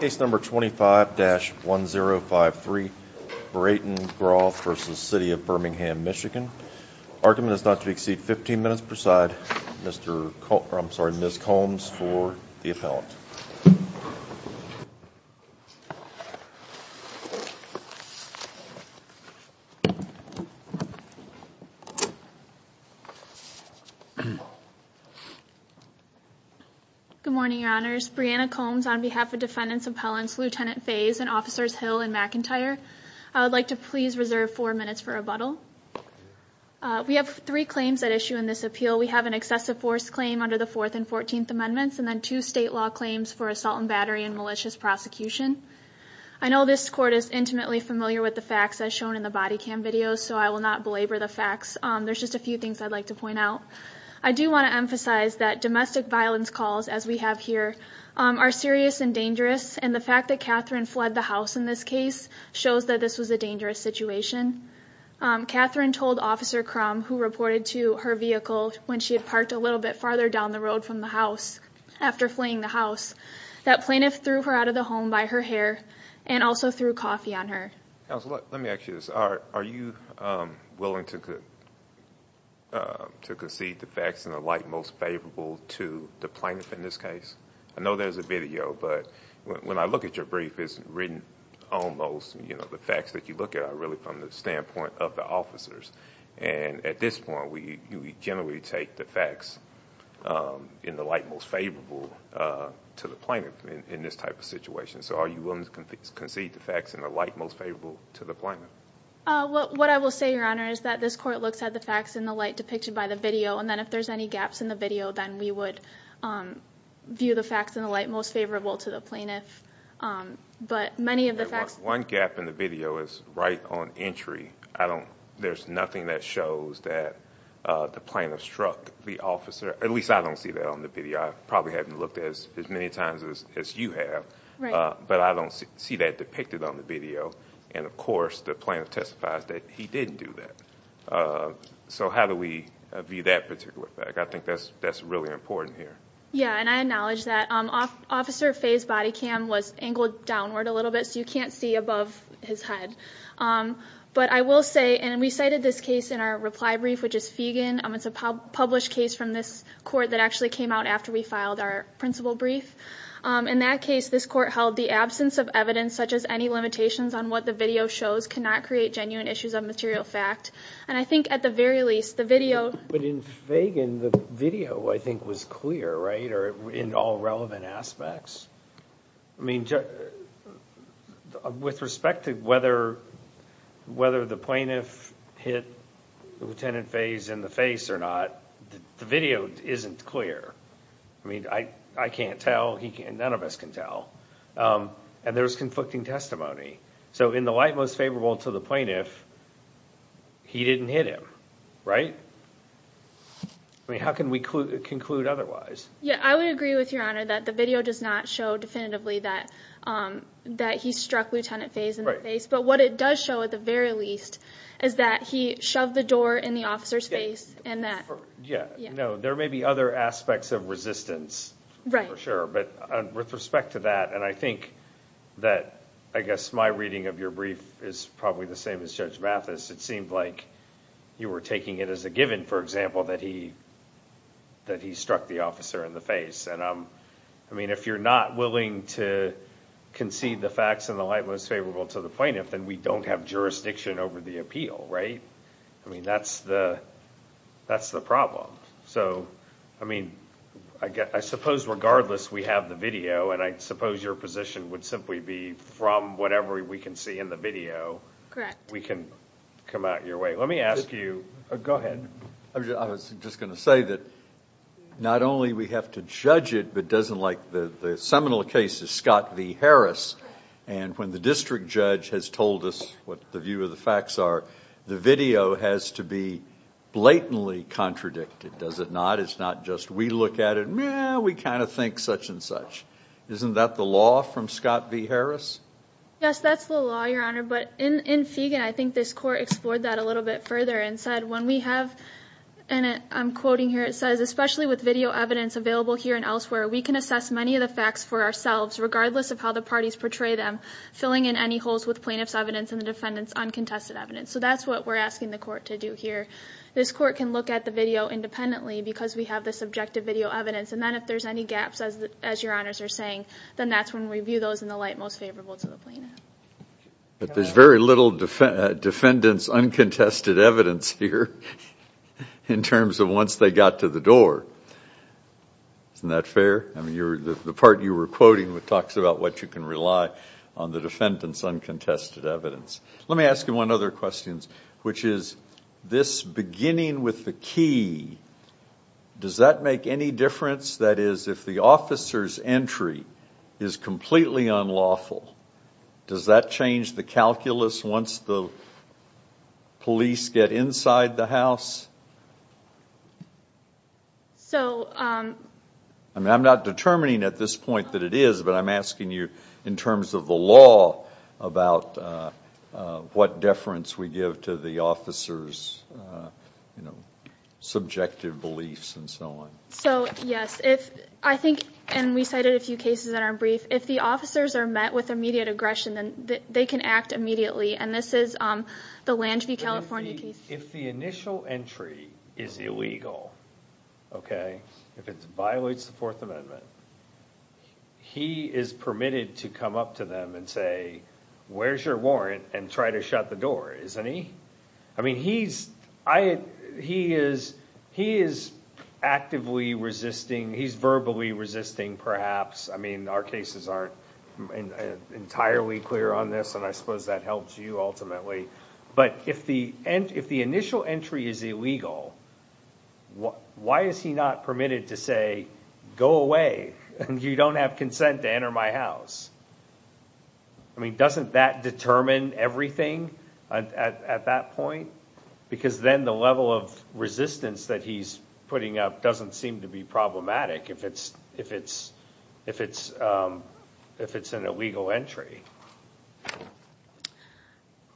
Case number 25-1053, Brayton Groth v. City of Birmingham, Michigan. Argument is not to exceed 15 minutes per side. Ms. Combs for the appellant. Good morning, Your Honors. Brianna Combs on behalf of Defendants Appellants Lt. Fays and Officers Hill and McIntyre. I would like to please reserve four minutes for rebuttal. We have three claims at issue in this appeal. We have an excessive force claim under the Fourth and Fourteenth Amendments, and then two state law claims for assault and battery and malicious prosecution. I know this court is intimately familiar with the facts as shown in the body cam video, so I will not belabor the facts. There's just a few things I'd like to point out. I do want to emphasize that domestic violence calls, as we have here, are serious and dangerous, and the fact that Catherine fled the house in this case shows that this was a dangerous situation. Catherine told Officer Crum, who reported to her vehicle when she had parked a little bit farther down the road from the house, after fleeing the house, that plaintiff threw her out of the home by her hair and also threw coffee on her. Let me ask you this. Are you willing to concede the facts in the light most favorable to the plaintiff in this case? I know there's a video, but when I look at your brief, it's written almost, you know, the facts that you look at are really from the standpoint of the officers. And at this point, we generally take the facts in the light most favorable to the plaintiff in this type of situation. So are you willing to concede the facts in the light most favorable to the plaintiff? What I will say, Your Honor, is that this court looks at the facts in the light depicted by the video, and then if there's any gaps in the video, then we would view the facts in the light most favorable to the plaintiff. One gap in the video is right on entry. There's nothing that shows that the plaintiff struck the officer. At least I don't see that on the video. I probably haven't looked as many times as you have. But I don't see that depicted on the video. And, of course, the plaintiff testifies that he didn't do that. So how do we view that particular fact? I think that's really important here. Yeah, and I acknowledge that. Officer Fay's body cam was angled downward a little bit, so you can't see above his head. But I will say, and we cited this case in our reply brief, which is Fagan. It's a published case from this court that actually came out after we filed our principal brief. In that case, this court held the absence of evidence, such as any limitations on what the video shows, cannot create genuine issues of material fact. And I think, at the very least, the video— In Fagan, the video, I think, was clear in all relevant aspects. I mean, with respect to whether the plaintiff hit Lieutenant Fay's in the face or not, the video isn't clear. I mean, I can't tell. None of us can tell. And there's conflicting testimony. So in the light most favorable to the plaintiff, he didn't hit him, right? I mean, how can we conclude otherwise? Yeah, I would agree with Your Honor that the video does not show definitively that he struck Lieutenant Fay's in the face. But what it does show, at the very least, is that he shoved the door in the officer's face and that— Yeah, no, there may be other aspects of resistance, for sure. But with respect to that, and I think that, I guess, my reading of your brief is probably the same as Judge Mathis, it seemed like you were taking it as a given, for example, that he struck the officer in the face. And I mean, if you're not willing to concede the facts in the light most favorable to the plaintiff, then we don't have jurisdiction over the appeal, right? I mean, that's the problem. So, I mean, I suppose regardless we have the video, and I suppose your position would simply be from whatever we can see in the video, we can come out your way. Let me ask you—go ahead. I was just going to say that not only we have to judge it, but doesn't like the seminal cases, Scott v. Harris, and when the district judge has told us what the view of the facts are, the video has to be blatantly contradicted, does it not? It's not just we look at it, meh, we kind of think such and such. Isn't that the law from Scott v. Harris? Yes, that's the law, Your Honor. But in Fegan, I think this court explored that a little bit further and said when we have— and I'm quoting here, it says, especially with video evidence available here and elsewhere, we can assess many of the facts for ourselves regardless of how the parties portray them, filling in any holes with plaintiff's evidence and the defendant's uncontested evidence. So that's what we're asking the court to do here. This court can look at the video independently because we have the subjective video evidence, and then if there's any gaps, as Your Honors are saying, then that's when we view those in the light most favorable to the plaintiff. But there's very little defendant's uncontested evidence here in terms of once they got to the door. Isn't that fair? The part you were quoting talks about what you can rely on the defendant's uncontested evidence. Let me ask you one other question, which is this beginning with the key, does that make any difference? That is, if the officer's entry is completely unlawful, does that change the calculus once the police get inside the house? I'm not determining at this point that it is, but I'm asking you in terms of the law about what deference we give to the officer's subjective beliefs and so on. Yes. We cited a few cases that aren't brief. If the officers are met with immediate aggression, then they can act immediately. This is the Lange v. California case. If the initial entry is illegal, if it violates the Fourth Amendment, he is permitted to come up to them and say, where's your warrant, and try to shut the door, isn't he? I mean, he is actively resisting. He's verbally resisting, perhaps. I mean, our cases aren't entirely clear on this, and I suppose that helps you ultimately. But if the initial entry is illegal, why is he not permitted to say, go away, and you don't have consent to enter my house? I mean, doesn't that determine everything at that point? Because then the level of resistance that he's putting up doesn't seem to be problematic if it's an illegal entry.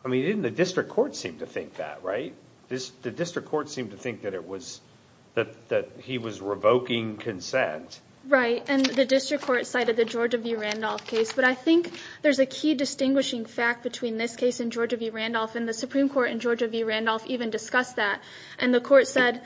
I mean, didn't the district court seem to think that, right? The district court seemed to think that he was revoking consent. Right, and the district court cited the Georgia v. Randolph case. But I think there's a key distinguishing fact between this case and Georgia v. Randolph, and the Supreme Court in Georgia v. Randolph even discussed that. And the court said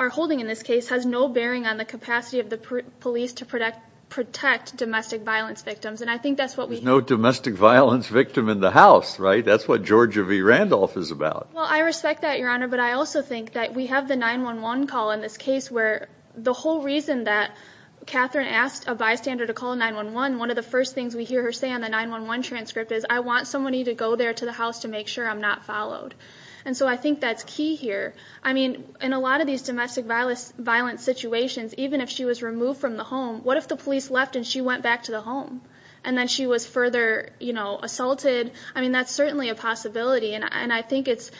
our holding in this case has no bearing on the capacity of the police to protect domestic violence victims. And I think that's what we hear. There's no domestic violence victim in the house, right? That's what Georgia v. Randolph is about. Well, I respect that, Your Honor, but I also think that we have the 911 call in this case where the whole reason that Catherine asked a bystander to call 911, one of the first things we hear her say on the 911 transcript is, I want somebody to go there to the house to make sure I'm not followed. And so I think that's key here. I mean, in a lot of these domestic violence situations, even if she was removed from the home, what if the police left and she went back to the home and then she was further assaulted? I mean, that's certainly a possibility, and I think it's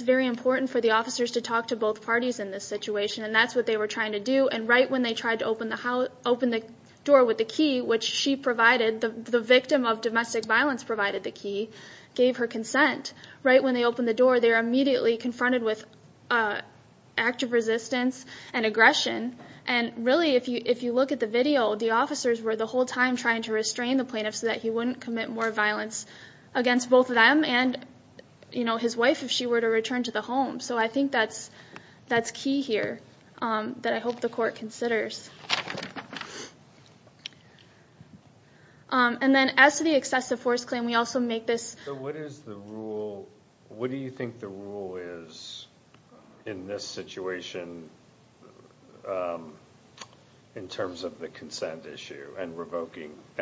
very important for the officers to talk to both parties in this situation, and that's what they were trying to do. And right when they tried to open the door with the key, which she provided, the victim of domestic violence provided the key, gave her consent, right when they opened the door they were immediately confronted with active resistance and aggression. And really, if you look at the video, the officers were the whole time trying to restrain the plaintiff so that he wouldn't commit more violence against both of them and his wife if she were to return to the home. So I think that's key here that I hope the court considers. And then as to the excessive force claim, we also make this... What do you think the rule is in this situation in terms of the consent issue and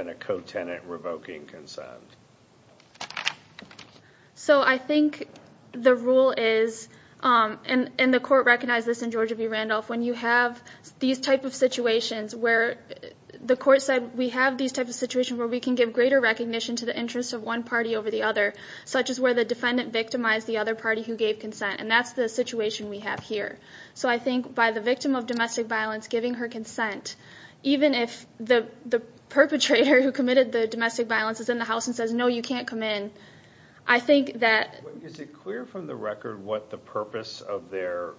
a co-tenant revoking consent? So I think the rule is, and the court recognized this in Georgia v. Randolph, when you have these type of situations where the court said, where we can give greater recognition to the interests of one party over the other, such as where the defendant victimized the other party who gave consent, and that's the situation we have here. So I think by the victim of domestic violence giving her consent, even if the perpetrator who committed the domestic violence is in the house and says, no, you can't come in, I think that... Is it clear from the record what the purpose of their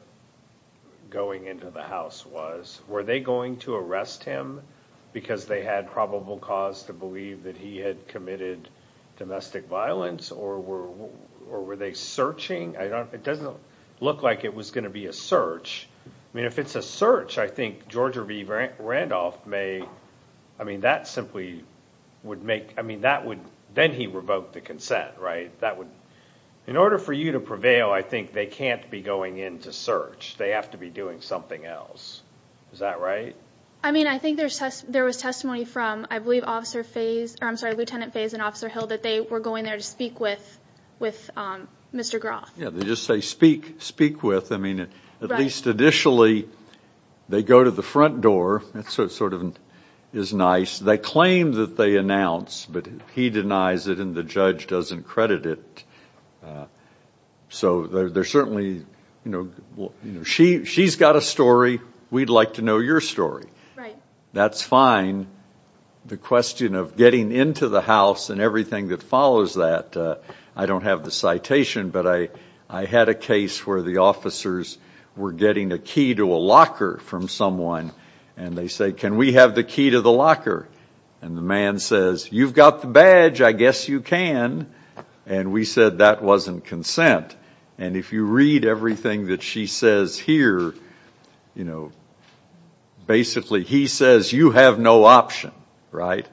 going into the house was? Were they going to arrest him because they had probable cause to believe that he had committed domestic violence? Or were they searching? It doesn't look like it was going to be a search. I mean, if it's a search, I think Georgia v. Randolph may... I mean, that simply would make... I mean, then he revoked the consent, right? In order for you to prevail, I think they can't be going in to search. They have to be doing something else. Is that right? I mean, I think there was testimony from, I believe, Lieutenant Fays and Officer Hill that they were going there to speak with Mr. Groff. Yeah, they just say speak with. I mean, at least initially they go to the front door. That sort of is nice. They claim that they announced, but he denies it and the judge doesn't credit it. So they're certainly, you know, she's got a story. We'd like to know your story. That's fine. The question of getting into the house and everything that follows that, I don't have the citation, but I had a case where the officers were getting a key to a locker from someone, and they say, can we have the key to the locker? And the man says, you've got the badge. I guess you can. And we said that wasn't consent. And if you read everything that she says here, you know, basically he says, you have no option, right?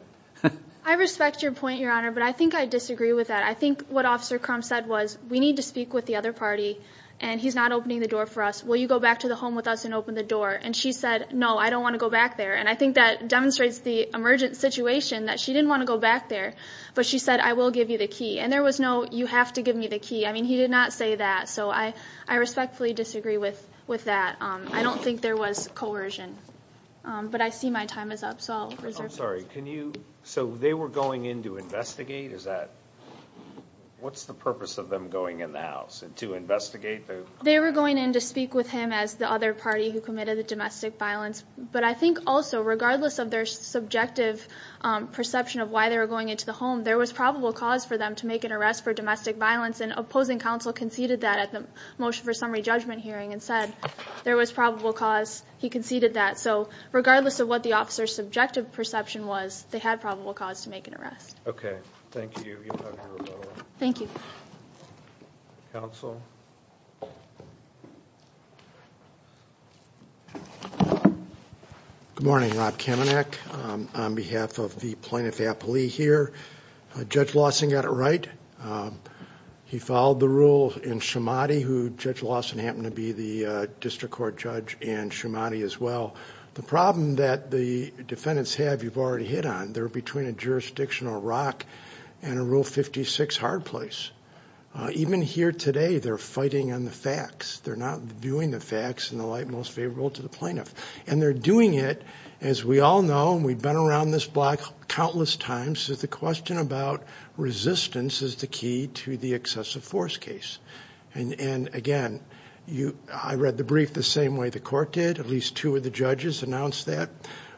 I respect your point, Your Honor, but I think I disagree with that. I think what Officer Crum said was, we need to speak with the other party, and he's not opening the door for us. Will you go back to the home with us and open the door? And she said, no, I don't want to go back there. And I think that demonstrates the emergent situation, that she didn't want to go back there, but she said, I will give you the key. And there was no, you have to give me the key. I mean, he did not say that, so I respectfully disagree with that. I don't think there was coercion. But I see my time is up, so I'll reserve it. I'm sorry, so they were going in to investigate? What's the purpose of them going in the house, to investigate? They were going in to speak with him as the other party who committed the domestic violence. But I think also, regardless of their subjective perception of why they were going in to the home, there was probable cause for them to make an arrest for domestic violence, and opposing counsel conceded that at the motion for summary judgment hearing, and said there was probable cause, he conceded that. So regardless of what the officer's subjective perception was, they had probable cause to make an arrest. Okay, thank you. Thank you. Counsel? Counsel? Good morning, Rob Kamenek. On behalf of the plaintiff, Appley, here. Judge Lawson got it right. He followed the rule in Schamati, who Judge Lawson happened to be the district court judge in Schamati as well. The problem that the defendants have, you've already hit on, they're between a jurisdictional rock and a Rule 56 hard place. Even here today, they're fighting on the facts. They're not viewing the facts in the light most favorable to the plaintiff. And they're doing it, as we all know, and we've been around this block countless times, is the question about resistance is the key to the excessive force case. And, again, I read the brief the same way the court did. At least two of the judges announced that.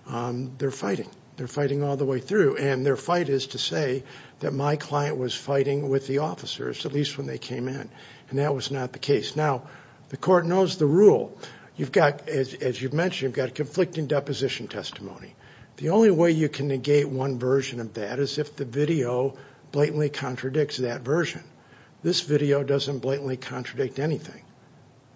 They're fighting. They're fighting all the way through. And their fight is to say that my client was fighting with the officers, at least when they came in. And that was not the case. Now, the court knows the rule. As you've mentioned, you've got conflicting deposition testimony. The only way you can negate one version of that is if the video blatantly contradicts that version. This video doesn't blatantly contradict anything.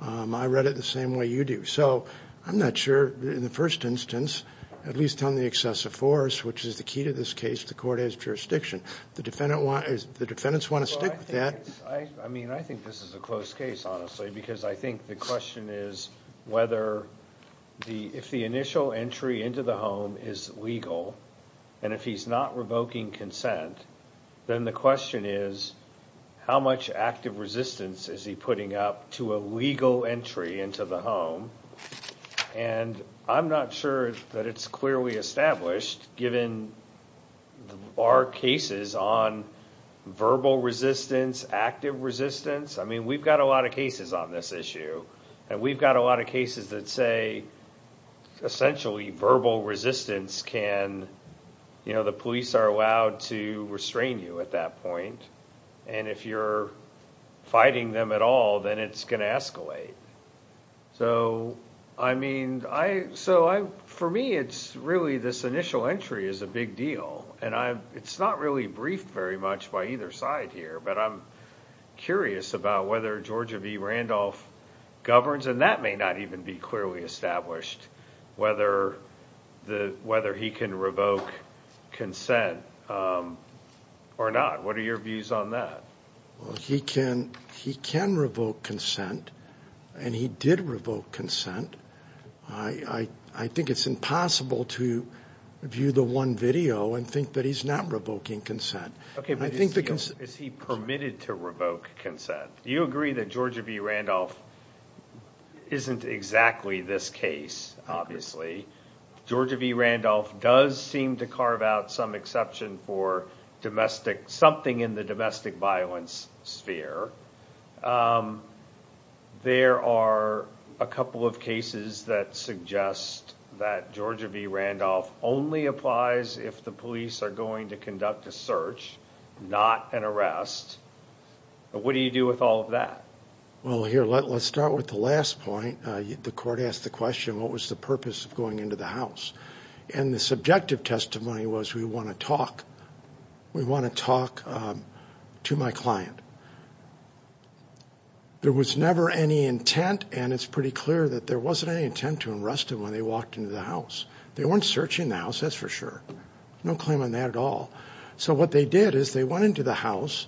I read it the same way you do. So I'm not sure, in the first instance, at least on the excessive force, which is the key to this case, the court has jurisdiction. The defendants want to stick with that. I mean, I think this is a close case, honestly, because I think the question is whether if the initial entry into the home is legal and if he's not revoking consent, then the question is how much active resistance is he putting up to a legal entry into the home. And I'm not sure that it's clearly established, given our cases on verbal resistance, active resistance. I mean, we've got a lot of cases on this issue. And we've got a lot of cases that say essentially verbal resistance can, you know, the police are allowed to restrain you at that point. And if you're fighting them at all, then it's going to escalate. So, I mean, for me, it's really this initial entry is a big deal. And it's not really briefed very much by either side here. But I'm curious about whether Georgia v. Randolph governs, and that may not even be clearly established, whether he can revoke consent or not. What are your views on that? Well, he can revoke consent, and he did revoke consent. I think it's impossible to view the one video and think that he's not revoking consent. Okay, but is he permitted to revoke consent? Do you agree that Georgia v. Randolph isn't exactly this case, obviously? Georgia v. Randolph does seem to carve out some exception for domestic, something in the domestic violence sphere. There are a couple of cases that suggest that Georgia v. Randolph only applies if the police are going to conduct a search, not an arrest. What do you do with all of that? Well, here, let's start with the last point. The court asked the question, what was the purpose of going into the house? And the subjective testimony was we want to talk. We want to talk to my client. There was never any intent, and it's pretty clear that there wasn't any intent to arrest him when they walked into the house. They weren't searching the house, that's for sure. No claim on that at all. So what they did is they went into the house.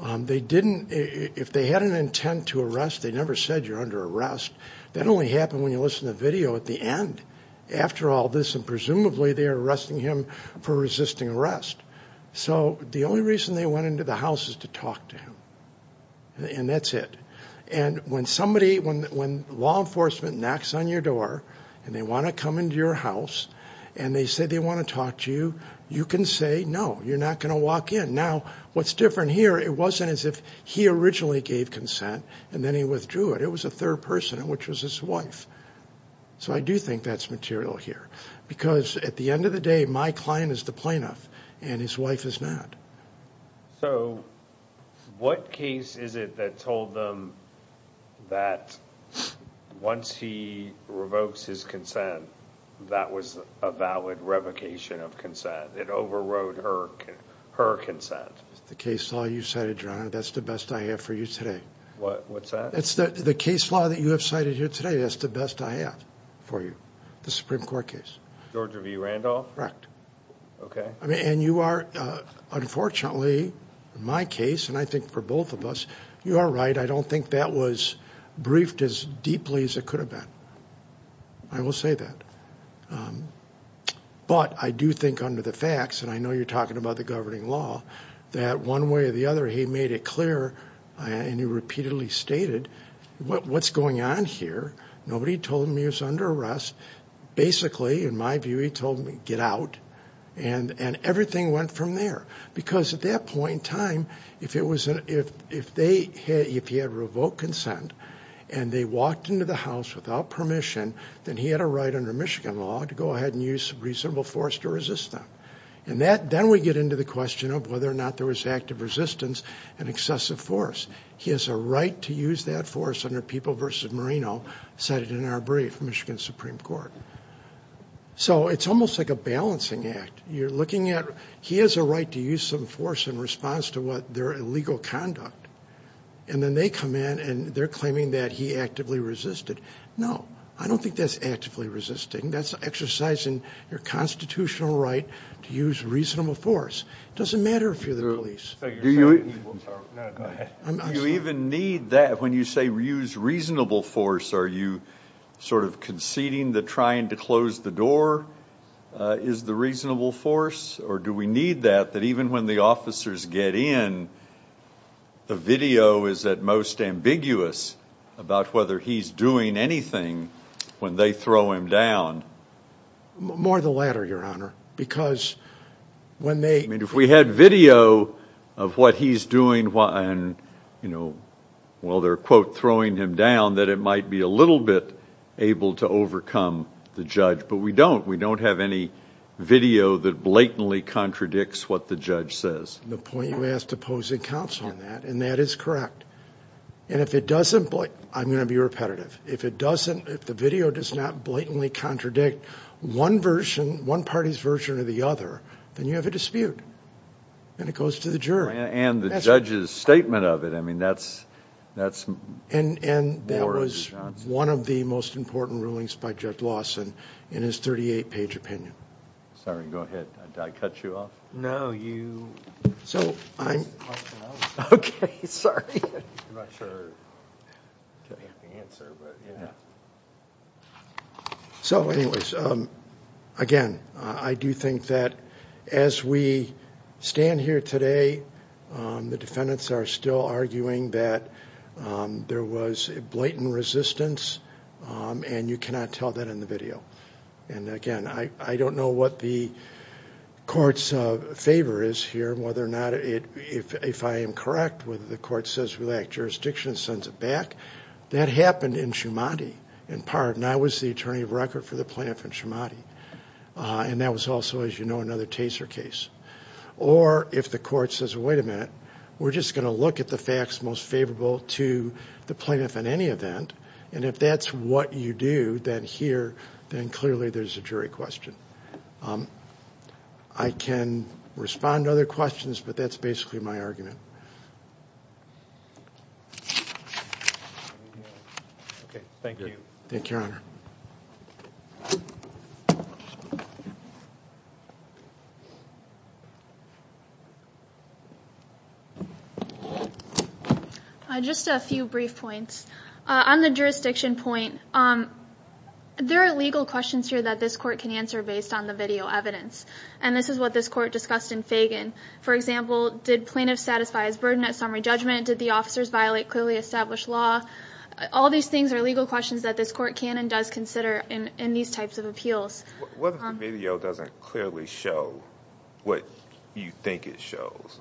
They didn't, if they had an intent to arrest, they never said you're under arrest. That only happened when you listened to the video at the end. After all this, and presumably they are arresting him for resisting arrest. So the only reason they went into the house is to talk to him, and that's it. And when somebody, when law enforcement knocks on your door and they want to come into your house and they say they want to talk to you, you can say no, you're not going to walk in. Now, what's different here, it wasn't as if he originally gave consent and then he withdrew it. It was a third person, which was his wife. So I do think that's material here. Because at the end of the day, my client is the plaintiff and his wife is not. So what case is it that told them that once he revokes his consent, that was a valid revocation of consent? It overrode her consent? The case law you cited, Your Honor, that's the best I have for you today. What's that? The case law that you have cited here today, that's the best I have for you, the Supreme Court case. George V. Randolph? Correct. And you are, unfortunately, in my case, and I think for both of us, you are right, I don't think that was briefed as deeply as it could have been. I will say that. But I do think under the facts, and I know you're talking about the governing law, that one way or the other he made it clear, and he repeatedly stated, what's going on here? Nobody told him he was under arrest. Basically, in my view, he told them to get out. And everything went from there. Because at that point in time, if he had revoked consent and they walked into the house without permission, then he had a right under Michigan law to go ahead and use reasonable force to resist them. And then we get into the question of whether or not there was active resistance and excessive force. He has a right to use that force under People v. Marino, cited in our brief, Michigan Supreme Court. So it's almost like a balancing act. You're looking at he has a right to use some force in response to their illegal conduct. And then they come in and they're claiming that he actively resisted. No, I don't think that's actively resisting. That's exercising your constitutional right to use reasonable force. It doesn't matter if you're the police. Do you even need that? When you say use reasonable force, are you sort of conceding that trying to close the door is the reasonable force? Or do we need that, that even when the officers get in, the video is at most ambiguous about whether he's doing anything when they throw him down? More the latter, Your Honor, because when they ---- I mean, if we had video of what he's doing and, you know, while they're, quote, throwing him down, that it might be a little bit able to overcome the judge. But we don't. We don't have any video that blatantly contradicts what the judge says. The point you asked to pose a counsel on that, and that is correct. And if it doesn't ---- I'm going to be repetitive. If it doesn't ---- if the video does not blatantly contradict one version, one party's version or the other, then you have a dispute, and it goes to the jury. And the judge's statement of it. I mean, that's more of the nonsense. And that was one of the most important rulings by Judge Lawson in his 38-page opinion. Sorry. Go ahead. Did I cut you off? No, you ---- So I'm ---- Okay. Sorry. I'm not sure I have the answer, but, you know. So, anyways, again, I do think that as we stand here today, the defendants are still arguing that there was blatant resistance, and you cannot tell that in the video. And, again, I don't know what the court's favor is here, whether or not it ---- if I am correct, whether the court says we lack jurisdiction and sends it back, that happened in Shumate in part, and I was the attorney of record for the plaintiff in Shumate. And that was also, as you know, another Taser case. Or if the court says, wait a minute, we're just going to look at the facts most favorable to the plaintiff in any event, and if that's what you do, then here, then clearly there's a jury question. I can respond to other questions, but that's basically my argument. Okay. Thank you. Thank you, Your Honor. Just a few brief points. On the jurisdiction point, there are legal questions here that this court can answer based on the video evidence, and this is what this court discussed in Fagan. For example, did plaintiffs satisfy his burden at summary judgment? Did the officers violate clearly established law? All these things are legal questions that this court can and does consider in these types of appeals. What if the video doesn't clearly show what you think it shows?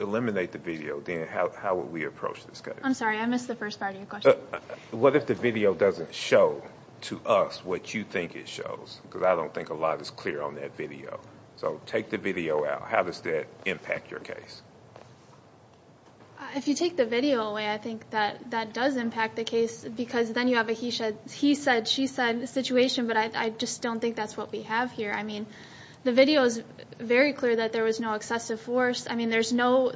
Eliminate the video, then how would we approach this case? I'm sorry, I missed the first part of your question. What if the video doesn't show to us what you think it shows? Because I don't think a lot is clear on that video. So take the video out. How does that impact your case? If you take the video away, I think that does impact the case, because then you have a he said, she said situation, but I just don't think that's what we have here. I mean, the video is very clear that there was no excessive force. I mean, there's nothing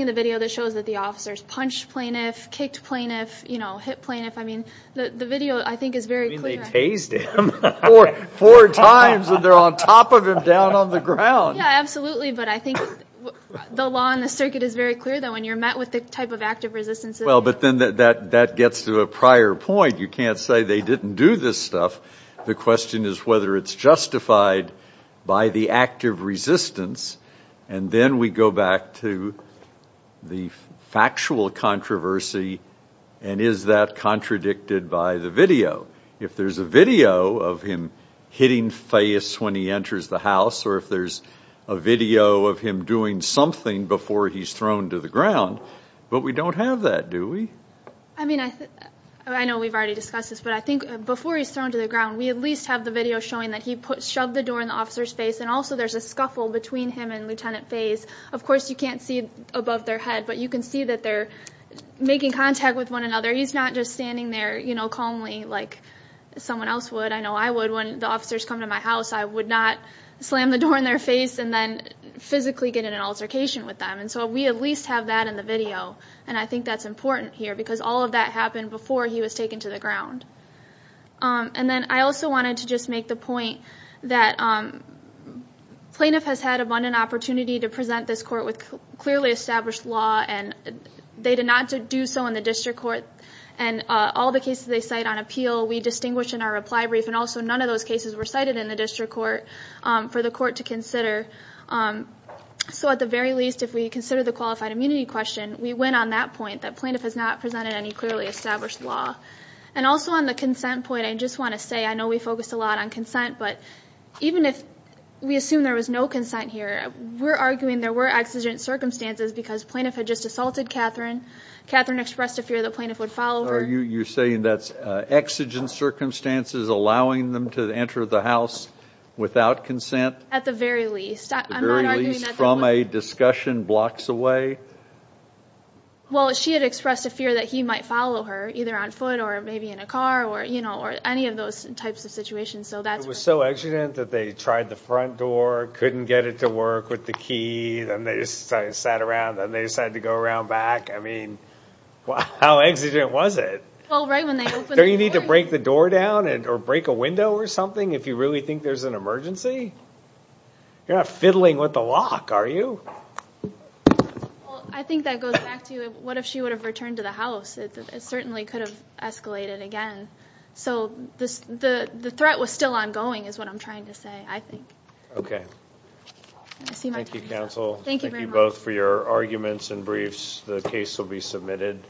in the video that shows that the officers punched plaintiff, kicked plaintiff, you know, hit plaintiff. I mean, the video, I think, is very clear. You mean they tased him? Four times, and they're on top of him down on the ground. Yeah, absolutely, but I think the law in the circuit is very clear, though, and you're met with the type of active resistance. Well, but then that gets to a prior point. You can't say they didn't do this stuff. The question is whether it's justified by the active resistance, and then we go back to the factual controversy, and is that contradicted by the video? If there's a video of him hitting face when he enters the house or if there's a video of him doing something before he's thrown to the ground, but we don't have that, do we? I mean, I know we've already discussed this, but I think before he's thrown to the ground, we at least have the video showing that he shoved the door in the officer's face, and also there's a scuffle between him and Lieutenant Fays. Of course you can't see above their head, but you can see that they're making contact with one another. He's not just standing there, you know, calmly like someone else would. I know I would when the officers come to my house. I would not slam the door in their face and then physically get in an altercation with them, and so we at least have that in the video, and I think that's important here because all of that happened before he was taken to the ground. Then I also wanted to just make the point that plaintiff has had abundant opportunity to present this court with clearly established law, and they did not do so in the district court, and all the cases they cite on appeal we distinguish in our reply brief, and also none of those cases were cited in the district court for the court to consider. So at the very least, if we consider the qualified immunity question, we went on that point that plaintiff has not presented any clearly established law. And also on the consent point, I just want to say I know we focused a lot on consent, but even if we assume there was no consent here, we're arguing there were exigent circumstances because plaintiff had just assaulted Catherine. Catherine expressed a fear that plaintiff would follow her. You're saying that's exigent circumstances, allowing them to enter the house without consent? At the very least. At the very least from a discussion blocks away? Well, she had expressed a fear that he might follow her either on foot or maybe in a car or any of those types of situations. It was so exigent that they tried the front door, couldn't get it to work with the key, then they sat around, then they decided to go around back. I mean, how exigent was it? Well, right when they opened the door. Don't you need to break the door down or break a window or something if you really think there's an emergency? You're not fiddling with the lock, are you? I think that goes back to what if she would have returned to the house? It certainly could have escalated again. So the threat was still ongoing is what I'm trying to say, I think. Okay. Thank you, counsel. Thank you very much. Thank you both for your arguments and briefs. The case will be submitted.